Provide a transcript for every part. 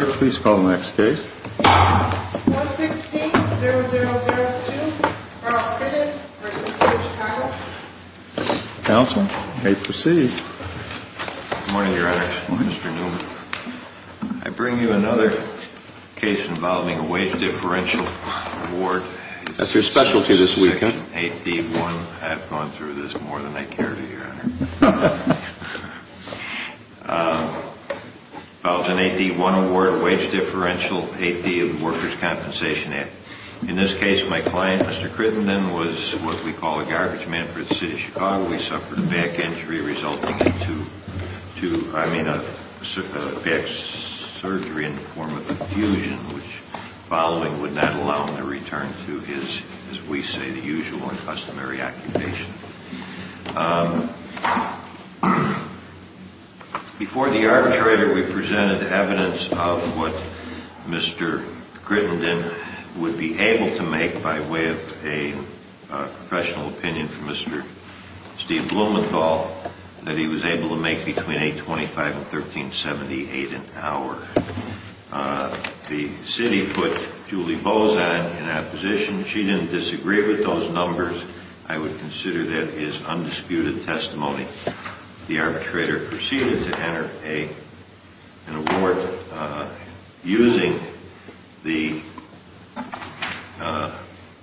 116-0002, Carl Crittenden v. City of Chicago Good morning, Your Honor. Good morning, Mr. Newman. I bring you another case involving a wage differential award. That's your specialty this weekend. I've gone through this more than I care to, Your Honor. It's an AD-1 award, a wage differential, AD of the Workers' Compensation Act. In this case, my client, Mr. Crittenden, was what we call a garbage man for the City of Chicago. He suffered a back surgery in the form of a fusion, which following would not allow him to return to his, as we say, the usual or customary occupation. Before the arbitrator, we presented evidence of what Mr. Crittenden would be able to make by way of a professional opinion from Mr. Steve Blumenthal, that he was able to make between $825,000 and $1378,000 an hour. The City put Julie Bozan in opposition. She didn't disagree with those numbers. I would consider that his undisputed testimony. The arbitrator proceeded to enter an award using the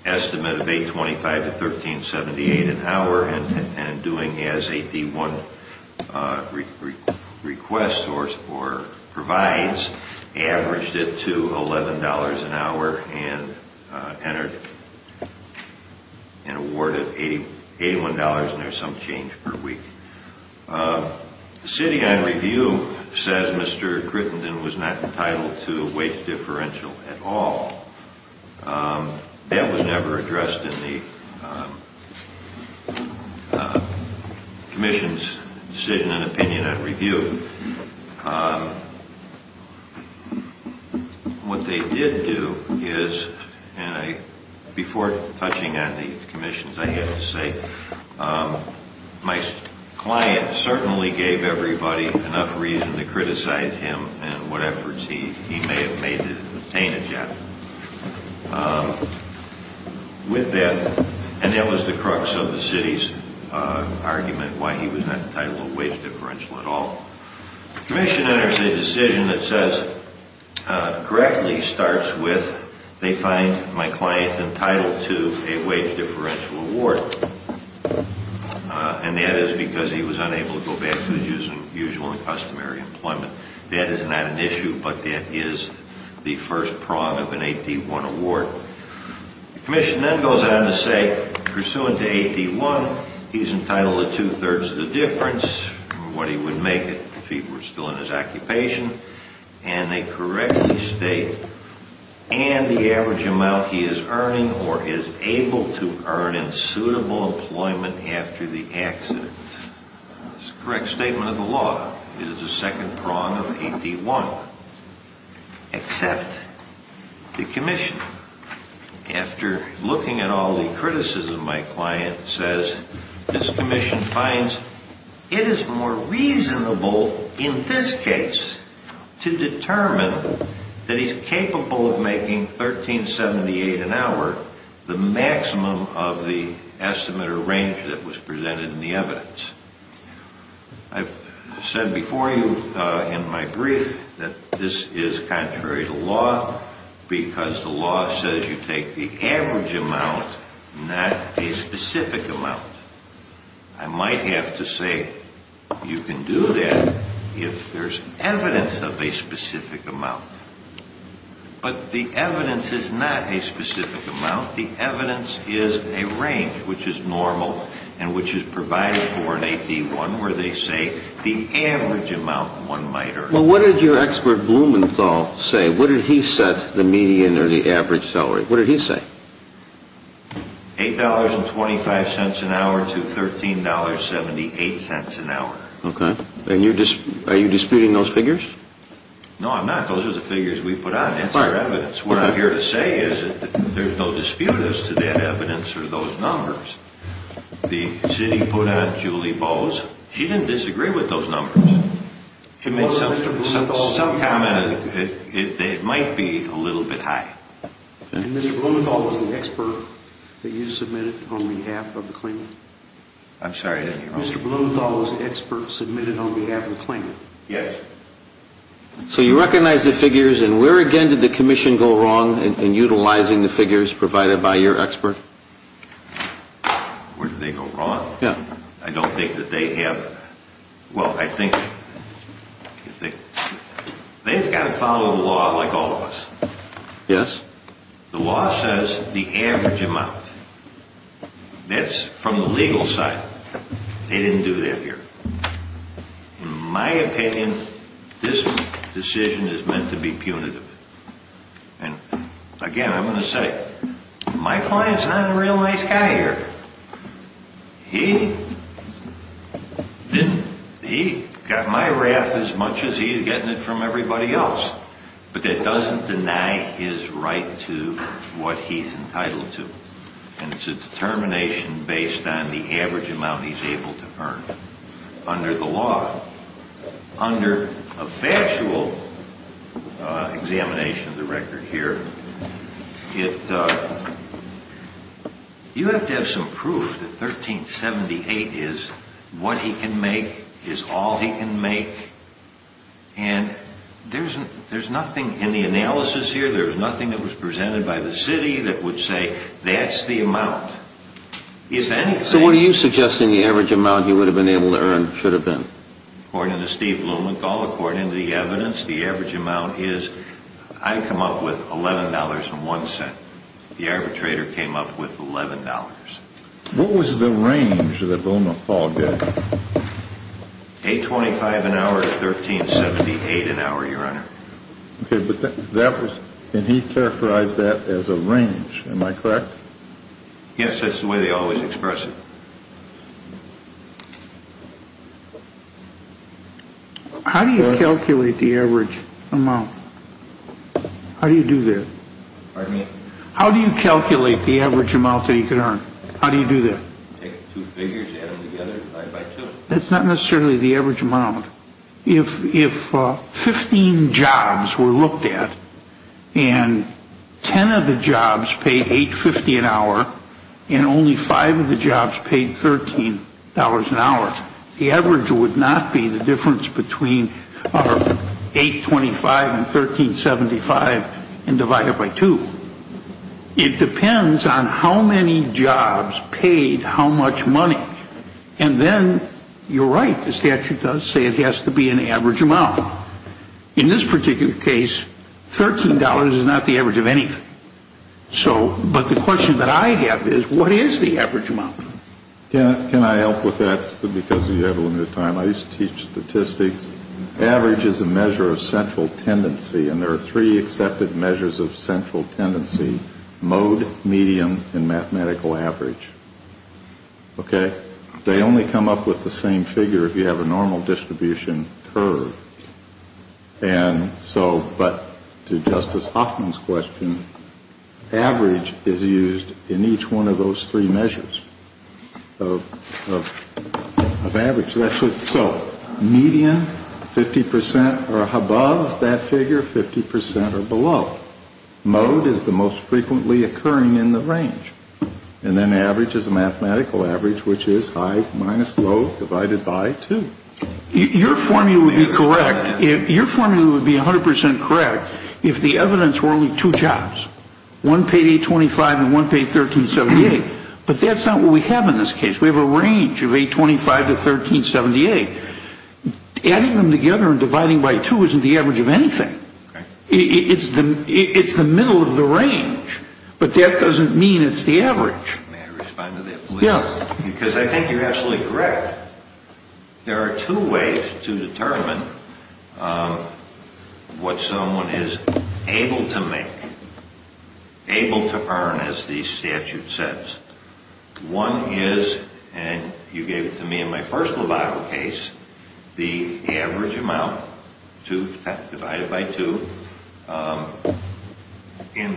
estimate of $825,000 to $1378,000 an hour and doing as AD-1 requests or provides, averaged it to $11 an hour, and entered an award of $81 and there's some change per week. The City, on review, says Mr. Crittenden was not entitled to a wage differential at all. That was never addressed in the Commission's decision and opinion on review. What they did do is, and before touching on the Commission's, I have to say, my client certainly gave everybody enough reason to criticize him and what efforts he may have made to obtain it yet. With that, and that was the crux of the City's argument, why he was not entitled to a wage differential at all. The Commission enters a decision that says, correctly starts with, they find my client entitled to a wage differential award and that is because he was unable to go back to his usual and customary employment. That is not an issue, but that is the first prod of an AD-1 award. The Commission then goes on to say, pursuant to AD-1, he is entitled to two-thirds of the difference from what he would make if he were still in his occupation, and they correctly state, and the average amount he is earning or is able to earn in suitable employment after the accident. That's the correct statement of the law. It is the second prod of AD-1, except the Commission. After looking at all the criticism, my client says, this Commission finds it is more reasonable in this case to determine that he's capable of making $13.78 an hour, the maximum of the estimate or range that was presented in the evidence. I've said before you in my brief that this is contrary to law because the law says you take the average amount, not a specific amount. I might have to say you can do that if there's evidence of a specific amount, but the evidence is not a specific amount. The evidence is a range which is normal and which is provided for in AD-1 where they say the average amount one might earn. Well, what did your expert Blumenthal say? What did he set the median or the average salary? What did he say? $8.25 an hour to $13.78 an hour. Okay. Are you disputing those figures? No, I'm not. Those are the figures we put on. That's our evidence. What I'm here to say is that there's no dispute as to that evidence or those numbers. The city put on Julie Bowes. She didn't disagree with those numbers. To make some comment, it might be a little bit high. Mr. Blumenthal was the expert that you submitted on behalf of the claimant? I'm sorry. Mr. Blumenthal was the expert submitted on behalf of the claimant? Yes. So you recognize the figures, and where again did the commission go wrong in utilizing the figures provided by your expert? Where did they go wrong? Yeah. I don't think that they have – well, I think they've got to follow the law like all of us. Yes. The law says the average amount. That's from the legal side. They didn't do that here. In my opinion, this decision is meant to be punitive. And again, I'm going to say, my client's not a real nice guy here. He didn't – he got my wrath as much as he's getting it from everybody else. But that doesn't deny his right to what he's entitled to. And it's a determination based on the average amount he's able to earn under the law. Under a factual examination of the record here, you have to have some proof that 1378 is what he can make, is all he can make. And there's nothing in the analysis here, there's nothing that was presented by the city that would say that's the amount. So what are you suggesting the average amount he would have been able to earn should have been? According to Steve Blumenthal, according to the evidence, the average amount is – I've come up with $11.01. The arbitrator came up with $11.00. What was the range that Blumenthal gave you? $8.25 an hour to 1378 an hour, Your Honor. Okay, but that was – and he characterized that as a range. Am I correct? Yes, that's the way they always express it. How do you calculate the average amount? How do you do that? Pardon me? How do you calculate the average amount that he could earn? How do you do that? Take two figures, add them together, divide by two. That's not necessarily the average amount. If 15 jobs were looked at and 10 of the jobs paid $8.50 an hour and only five of the jobs paid $13.00 an hour, the average would not be the difference between our $8.25 and 1375 and divide it by two. It depends on how many jobs paid how much money. And then you're right. The statute does say it has to be an average amount. In this particular case, $13.00 is not the average of anything. But the question that I have is what is the average amount? Can I help with that because you have a little bit of time? I used to teach statistics. Average is a measure of central tendency, and there are three accepted measures of central tendency, mode, medium, and mathematical average. Okay? They only come up with the same figure if you have a normal distribution curve. And so, but to Justice Hoffman's question, average is used in each one of those three measures of average. So, median, 50% are above that figure, 50% are below. Mode is the most frequently occurring in the range. And then average is a mathematical average, which is high minus low divided by two. Your formula would be correct. Your formula would be 100% correct if the evidence were only two jobs. One paid $8.25 and one paid $13.78. But that's not what we have in this case. We have a range of $8.25 to $13.78. Adding them together and dividing by two isn't the average of anything. It's the middle of the range. But that doesn't mean it's the average. May I respond to that, please? Yeah. Because I think you're absolutely correct. There are two ways to determine what someone is able to make, able to earn, as the statute says. One is, and you gave it to me in my first lobotomy case, the average amount divided by two and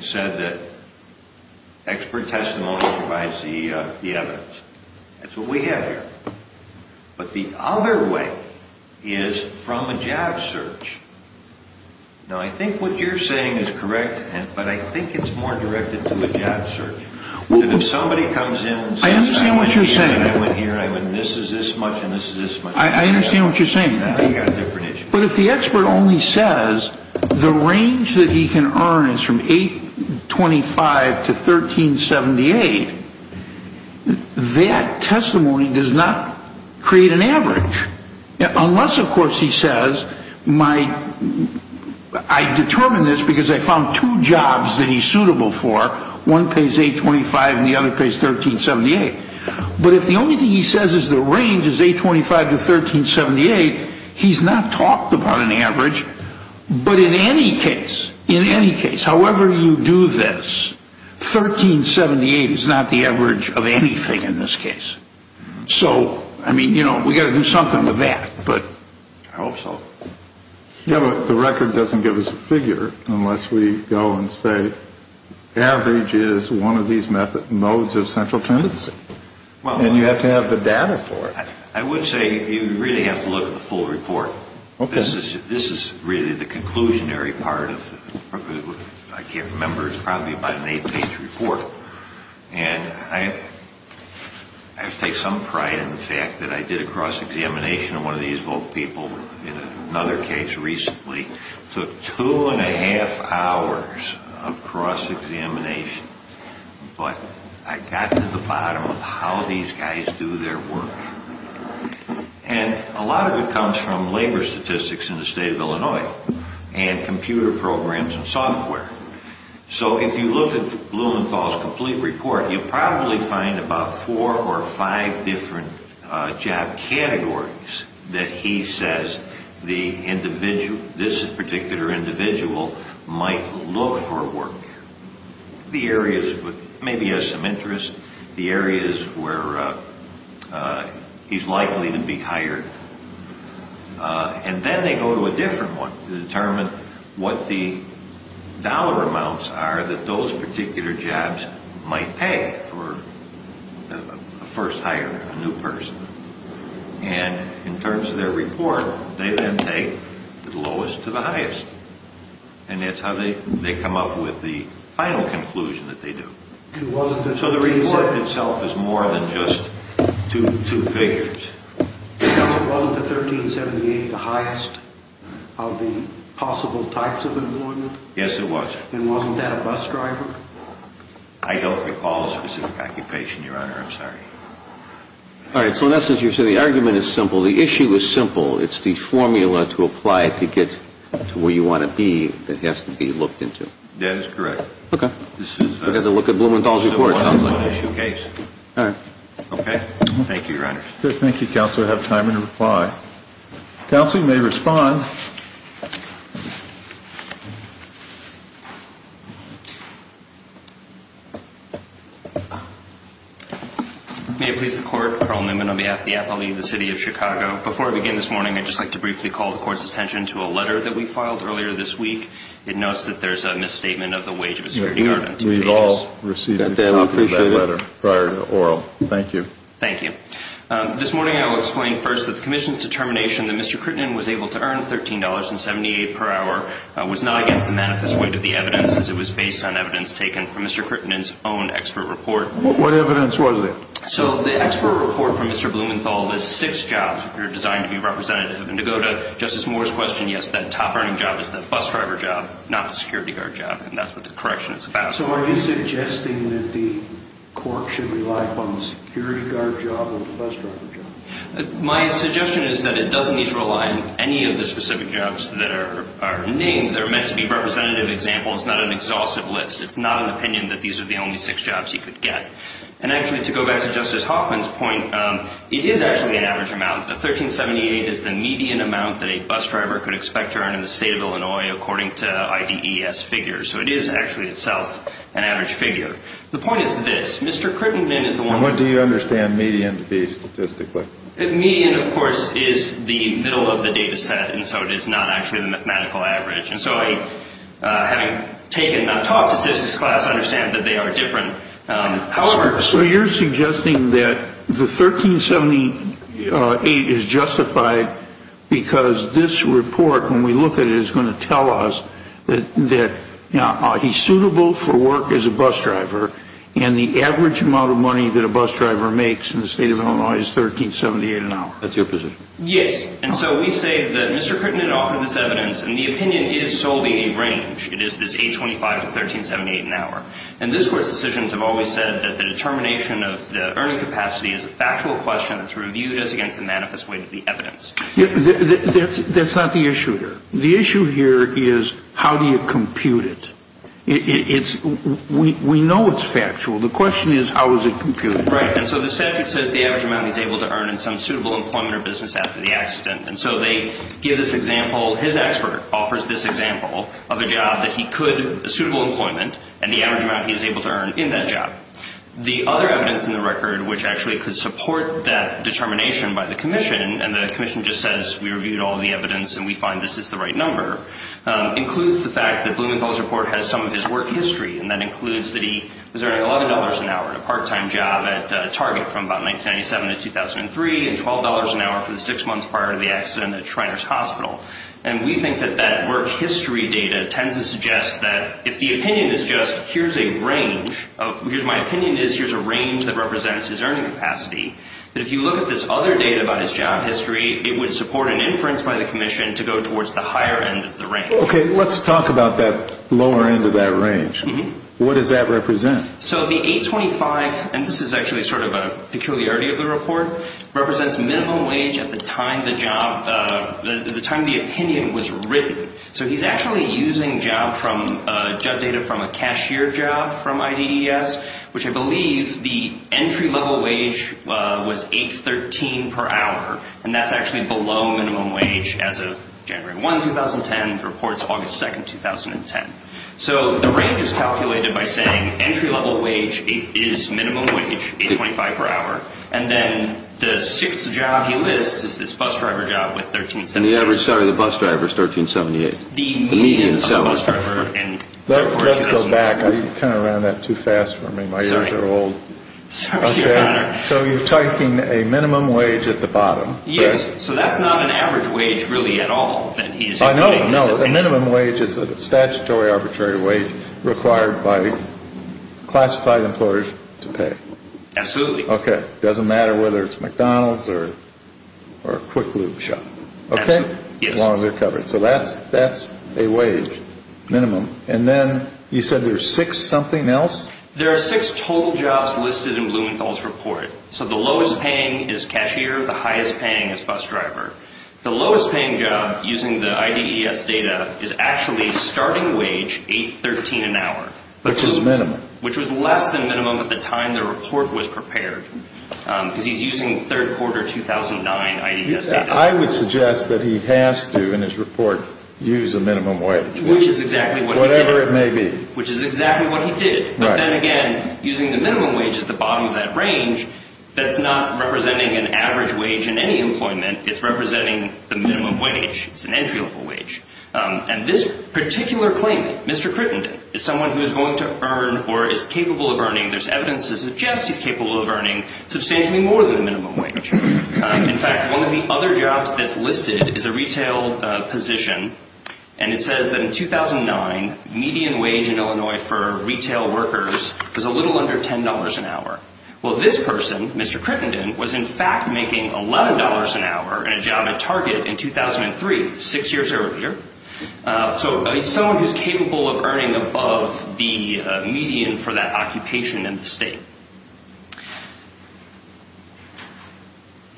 said that expert testimony provides the evidence. That's what we have here. But the other way is from a job search. No, I think what you're saying is correct, but I think it's more directed to a job search. If somebody comes in and says I went here and I went here and I went this is this much and this is this much. I understand what you're saying. We've got a different issue. But if the expert only says the range that he can earn is from $8.25 to $13.78, that testimony does not create an average. Unless, of course, he says I determined this because I found two jobs that he's suitable for. One pays $8.25 and the other pays $13.78. But if the only thing he says is the range is $8.25 to $13.78, he's not talked about an average. But in any case, however you do this, $13.78 is not the average of anything in this case. So, I mean, you know, we've got to do something with that. But I hope so. Yeah, but the record doesn't give us a figure unless we go and say average is one of these modes of central tendency. And you have to have the data for it. I would say you really have to look at the full report. This is really the conclusionary part of it. I can't remember. It's probably about an eight-page report. And I have to take some pride in the fact that I did a cross-examination of one of these people in another case recently. It took two and a half hours of cross-examination. But I got to the bottom of how these guys do their work. And a lot of it comes from labor statistics in the state of Illinois and computer programs and software. So if you look at Blumenthal's complete report, you'll probably find about four or five different job categories that he says this particular individual might look for work. The areas where maybe he has some interest, the areas where he's likely to be hired. And then they go to a different one to determine what the dollar amounts are that those particular jobs might pay for a first hire, a new person. And in terms of their report, they then take the lowest to the highest. And that's how they come up with the final conclusion that they do. So the report itself is more than just two figures. Wasn't the 1378 the highest of the possible types of employment? Yes, it was. And wasn't that a bus driver? I don't recall a specific occupation, Your Honor. I'm sorry. All right. So in essence, you're saying the argument is simple. The issue is simple. It's the formula to apply to get to where you want to be that has to be looked into. That is correct. Okay. We'll have to look at Blumenthal's report on the issue case. All right. Okay. Thank you, Your Honor. Thank you, Counselor. I have time to reply. Counselor, you may respond. May it please the Court. Carl Newman on behalf of the Apollee, the City of Chicago. Before I begin this morning, I'd just like to briefly call the Court's attention to a letter that we filed earlier this week. It notes that there's a misstatement of the wage of a security guard on two pages. We all received that letter prior to oral. Thank you. Thank you. This morning I will explain first that the Commission's determination that Mr. Crittenden was able to earn $13.78 per hour was not against the manifest weight of the evidence as it was based on evidence taken from Mr. Crittenden's own expert report. What evidence was it? So the expert report from Mr. Blumenthal lists six jobs that are designed to be representative. And to go to Justice Moore's question, yes, that top-earning job is that bus driver job, not the security guard job, and that's what the correction is about. So are you suggesting that the Court should rely upon the security guard job or the bus driver job? My suggestion is that it doesn't need to rely on any of the specific jobs that are named. They're meant to be representative examples, not an exhaustive list. It's not an opinion that these are the only six jobs you could get. And actually, to go back to Justice Hoffman's point, it is actually an average amount. The $13.78 is the median amount that a bus driver could expect to earn in the state of Illinois according to IDES figures. So it is actually itself an average figure. The point is this. Mr. Crittenden is the one who- And what do you understand median to be statistically? Median, of course, is the middle of the data set, and so it is not actually the mathematical average. And so having taken a top statistics class, I understand that they are different. So you're suggesting that the $13.78 is justified because this report, when we look at it, is going to tell us that he's suitable for work as a bus driver, and the average amount of money that a bus driver makes in the state of Illinois is $13.78 an hour. That's your position. Yes. And so we say that Mr. Crittenden offered this evidence, and the opinion is solely a range. It is this $8.25 to $13.78 an hour. And this Court's decisions have always said that the determination of the earning capacity is a factual question that's reviewed as against the manifest weight of the evidence. That's not the issue here. The issue here is how do you compute it? We know it's factual. The question is how is it computed? Right. And so the statute says the average amount he's able to earn in some suitable employment or business after the accident. And so they give this example. His expert offers this example of a job that he could, suitable employment, and the average amount he's able to earn in that job. The other evidence in the record which actually could support that determination by the commission, and the commission just says we reviewed all the evidence and we find this is the right number, includes the fact that Blumenthal's report has some of his work history, and that includes that he was earning $11 an hour at a part-time job at Target from about 1997 to 2003 and $12 an hour for the six months prior to the accident at Shriners Hospital. And we think that that work history data tends to suggest that if the opinion is just here's a range, because my opinion is here's a range that represents his earning capacity, that if you look at this other data about his job history, it would support an inference by the commission to go towards the higher end of the range. Okay. Let's talk about that lower end of that range. What does that represent? So the 825, and this is actually sort of a peculiarity of the report, represents minimum wage at the time the opinion was written. So he's actually using job data from a cashier job from IDES, which I believe the entry-level wage was $8.13 per hour, and that's actually below minimum wage as of January 1, 2010. The report's August 2, 2010. So the range is calculated by saying entry-level wage is minimum wage, $8.25 per hour, and then the sixth job he lists is this bus driver job with $13.78. And the average salary of the bus driver is $13.78. The median salary. Let's go back. You kind of ran that too fast for me. Sorry. Okay. So you're typing a minimum wage at the bottom. Yes. So that's not an average wage really at all. I know. No, a minimum wage is a statutory arbitrary wage required by classified employers to pay. Absolutely. Okay. It doesn't matter whether it's McDonald's or a Quick Loop shop. Absolutely. Okay? Yes. As long as they're covered. So that's a wage minimum. And then you said there's six something else? There are six total jobs listed in Blumenthal's report. So the lowest paying is cashier. The highest paying is bus driver. The lowest paying job using the IDES data is actually a starting wage $8.13 an hour. Which is minimum. Which was less than minimum at the time the report was prepared because he's using third quarter 2009 IDES data. I would suggest that he has to in his report use a minimum wage. Which is exactly what he did. Whatever it may be. Which is exactly what he did. Right. But then again, using the minimum wage at the bottom of that range, that's not representing an average wage in any employment. It's representing the minimum wage. It's an entry level wage. And this particular claimant, Mr. Crittenden, is someone who is going to earn or is capable of earning, there's evidence to suggest he's capable of earning substantially more than the minimum wage. In fact, one of the other jobs that's listed is a retail position. And it says that in 2009, median wage in Illinois for retail workers was a little under $10 an hour. Well, this person, Mr. Crittenden, was in fact making $11 an hour in a job at Target in 2003, six years earlier. So he's someone who's capable of earning above the median for that occupation in the state.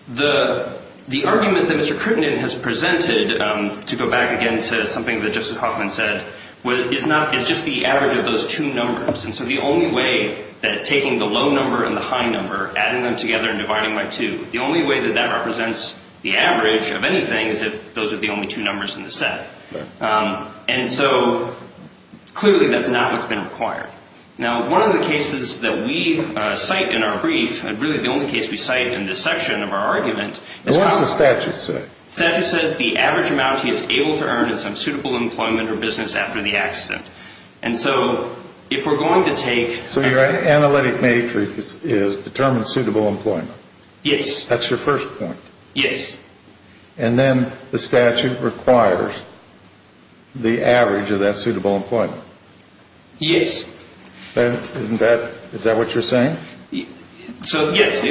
The argument that Mr. Crittenden has presented, to go back again to something that Justice Hoffman said, is just the average of those two numbers. And so the only way that taking the low number and the high number, adding them together and dividing by two, the only way that that represents the average of anything is if those are the only two numbers in the set. And so clearly that's not what's been required. Now, one of the cases that we cite in our brief, and really the only case we cite in this section of our argument, What does the statute say? The statute says the average amount he is able to earn in some suitable employment or business after the accident. And so if we're going to take... So your analytic matrix is determine suitable employment. Yes. That's your first point. Yes. And then the statute requires the average of that suitable employment. Yes. Is that what you're saying? So, yes.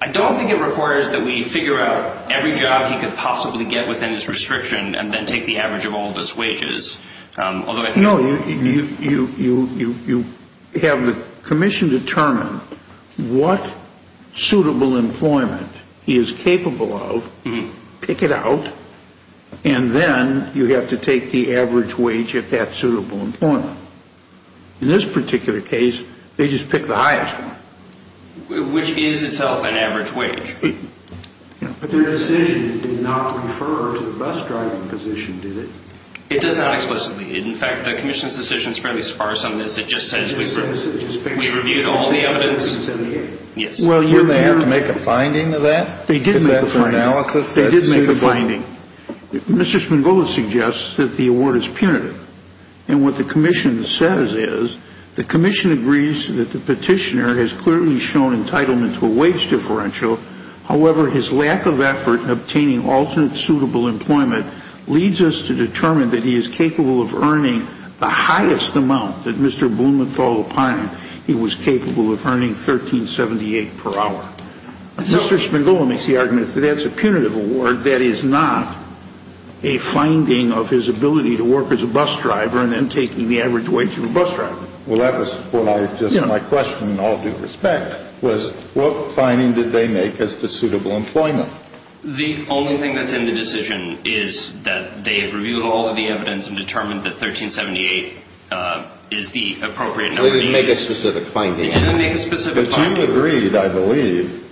I don't think it requires that we figure out every job he could possibly get within his restriction and then take the average of all of his wages. No, you have the commission determine what suitable employment he is capable of, pick it out, and then you have to take the average wage at that suitable employment. In this particular case, they just pick the highest one. Which is itself an average wage. But their decision did not refer to the bus driving position, did it? It does not explicitly. In fact, the commission's decision is fairly sparse on this. It just says we reviewed all the evidence. Yes. Well, didn't they have to make a finding of that? They did make a finding. They did make a finding. Mr. Spangoli suggests that the award is punitive. And what the commission says is, The commission agrees that the petitioner has clearly shown entitlement to a wage differential. However, his lack of effort in obtaining alternate suitable employment leads us to determine that he is capable of earning the highest amount that Mr. Blumenthal opined he was capable of earning, 13.78 per hour. Mr. Spangoli makes the argument that that's a punitive award. But that is not a finding of his ability to work as a bus driver and then taking the average wage of a bus driver. Well, that was just my question in all due respect, was what finding did they make as to suitable employment? The only thing that's in the decision is that they've reviewed all of the evidence and determined that 13.78 is the appropriate number. They didn't make a specific finding. They didn't make a specific finding. But you agreed, I believe,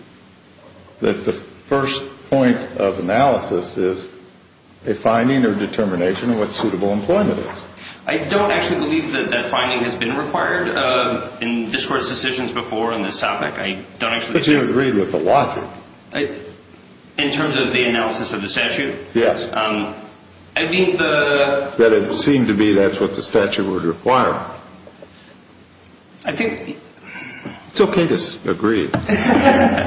that the first point of analysis is a finding or determination of what suitable employment is. I don't actually believe that that finding has been required in this Court's decisions before on this topic. But you agreed with a lot. In terms of the analysis of the statute? Yes. I mean the... That it seemed to be that's what the statute would require. I think... It's okay to agree. The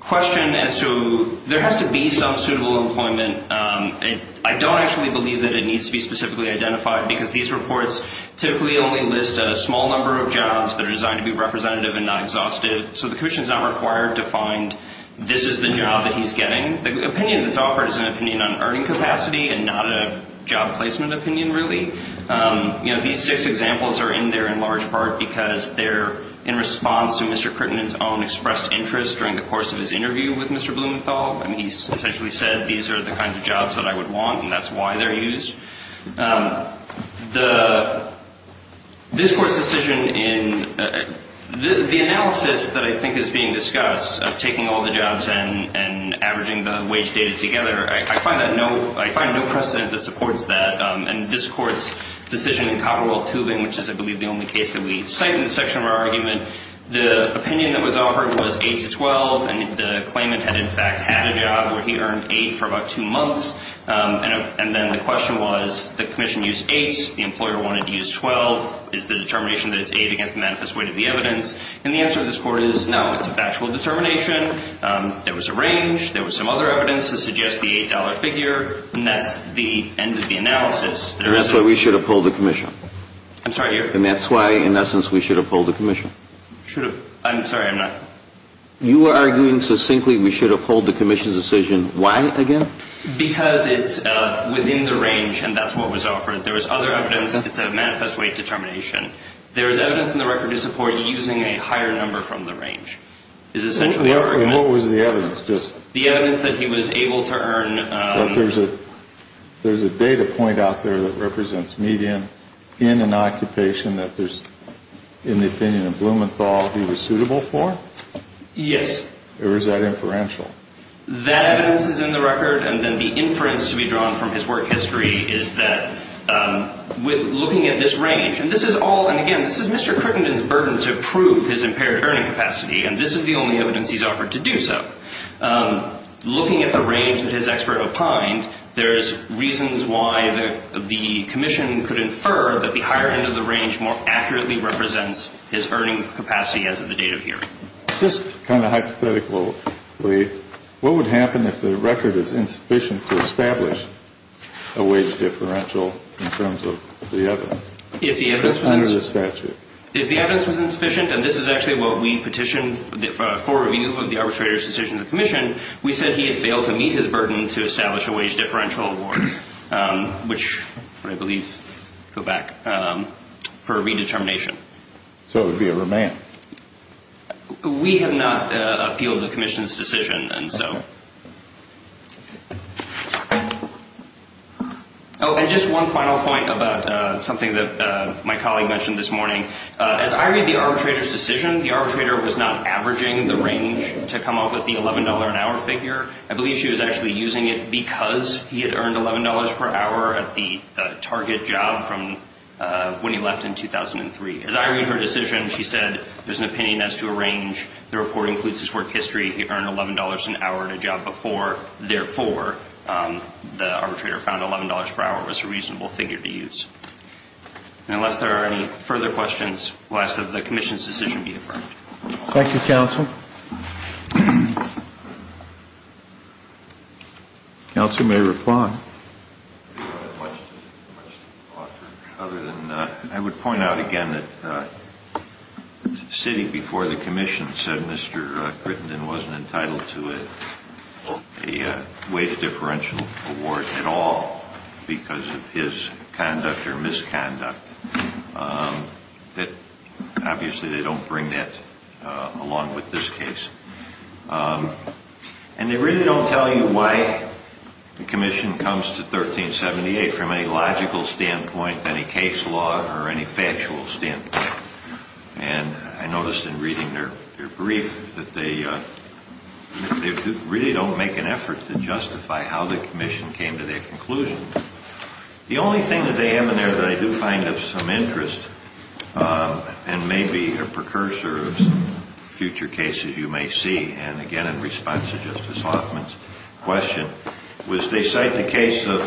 question as to there has to be some suitable employment, I don't actually believe that it needs to be specifically identified because these reports typically only list a small number of jobs that are designed to be representative and not exhaustive. So the Commission is not required to find this is the job that he's getting. The opinion that's offered is an opinion on earning capacity and not a job placement opinion really. You know, these six examples are in there in large part because they're in response to Mr. Crittenden's own expressed interest during the course of his interview with Mr. Blumenthal. And he essentially said these are the kinds of jobs that I would want and that's why they're used. The... This court's decision in... The analysis that I think is being discussed of taking all the jobs and averaging the wage data together, I find no precedent that supports that. And this court's decision in Copperwell Tubing, which is I believe the only case that we cite in the section of our argument, the opinion that was offered was 8 to 12 and the claimant had in fact had a job where he earned 8 for about two months. And then the question was the Commission used 8, the employer wanted to use 12. Is the determination that it's 8 against the manifest weight of the evidence? And the answer of this court is no. It's a factual determination. There was a range. There was some other evidence to suggest the $8 figure. And that's the end of the analysis. That's why we should uphold the Commission. I'm sorry. And that's why in essence we should uphold the Commission. Should have... I'm sorry. I'm not... You are arguing succinctly we should uphold the Commission's decision. Why, again? Because it's within the range and that's what was offered. There was other evidence. It's a manifest weight determination. There is evidence in the record to support using a higher number from the range. What was the evidence? The evidence that he was able to earn... There's a data point out there that represents median in an occupation that there's, in the opinion of Blumenthal, he was suitable for? Yes. Or is that inferential? That evidence is in the record. And then the inference to be drawn from his work history is that looking at this range, and this is all... And, again, this is Mr. Crickenden's burden to prove his impaired earning capacity, and this is the only evidence he's offered to do so. Looking at the range that his expert opined, there's reasons why the Commission could infer that the higher end of the range more accurately represents his earning capacity as of the date of hearing. Just kind of hypothetically, what would happen if the record is insufficient to establish a wage differential in terms of the evidence? If the evidence was... That's under the statute. If the evidence was insufficient, and this is actually what we petitioned for review of the arbitrator's decision to the Commission, we said he had failed to meet his burden to establish a wage differential award, which I believe, go back, for redetermination. So it would be a remand. We have not appealed the Commission's decision, and so... Oh, and just one final point about something that my colleague mentioned this morning. As I read the arbitrator's decision, the arbitrator was not averaging the range to come up with the $11 an hour figure. I believe she was actually using it because he had earned $11 per hour at the target job from when he left in 2003. As I read her decision, she said there's an opinion as to a range. The report includes his work history. He earned $11 an hour at a job before. Therefore, the arbitrator found $11 per hour was a reasonable figure to use. And unless there are any further questions, we'll ask that the Commission's decision be affirmed. Thank you, counsel. Counsel may reply. I would point out again that the city before the Commission said Mr. Grittenden wasn't entitled to a wage differential award at all because of his conduct or misconduct. Obviously, they don't bring that along with this case. And they really don't tell you why the Commission comes to 1378 from any logical standpoint, any case law, or any factual standpoint. And I noticed in reading their brief that they really don't make an effort to justify how the Commission came to that conclusion. The only thing that they have in there that I do find of some interest and may be a precursor of future cases you may see, and again in response to Justice Hoffman's question, was they cite the case of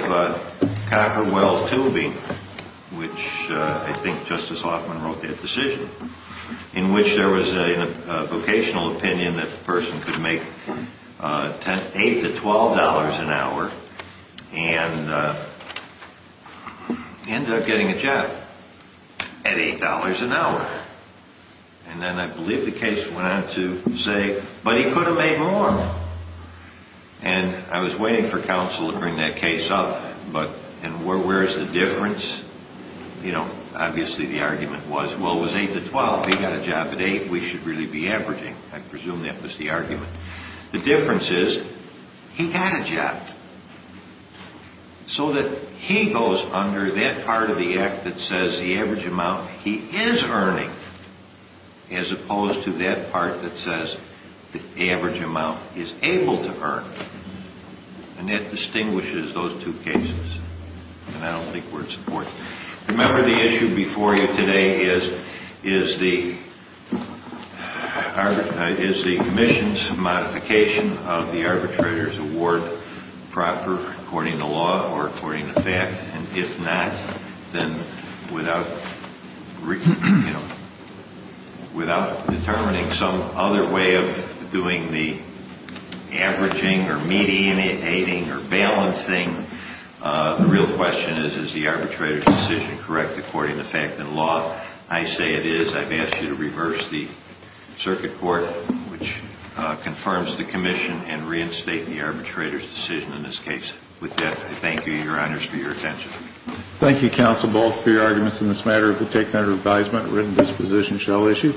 Cocker Well Tubing, which I think Justice Hoffman wrote that decision, in which there was a vocational opinion that the person could make $8 to $12 an hour and end up getting a job at $8 an hour. And then I believe the case went on to say, but he could have made more. And I was waiting for counsel to bring that case up. But where is the difference? Obviously, the argument was, well, it was 8 to 12. He got a job at 8. We should really be averaging. I presume that was the argument. The difference is, he got a job. So that he goes under that part of the act that says the average amount he is earning, as opposed to that part that says the average amount he is able to earn. And that distinguishes those two cases. Remember, the issue before you today is the commission's modification of the arbitrator's award proper, according to law or according to fact. And if not, then without determining some other way of doing the averaging or mediating or balancing, the real question is, is the arbitrator's decision correct according to fact and law? I say it is. I've asked you to reverse the circuit court, which confirms the commission, and reinstate the arbitrator's decision in this case. With that, I thank you, Your Honors, for your attention. Thank you, counsel, both, for your arguments in this matter. If we'll take that as an advisement, written disposition shall issue.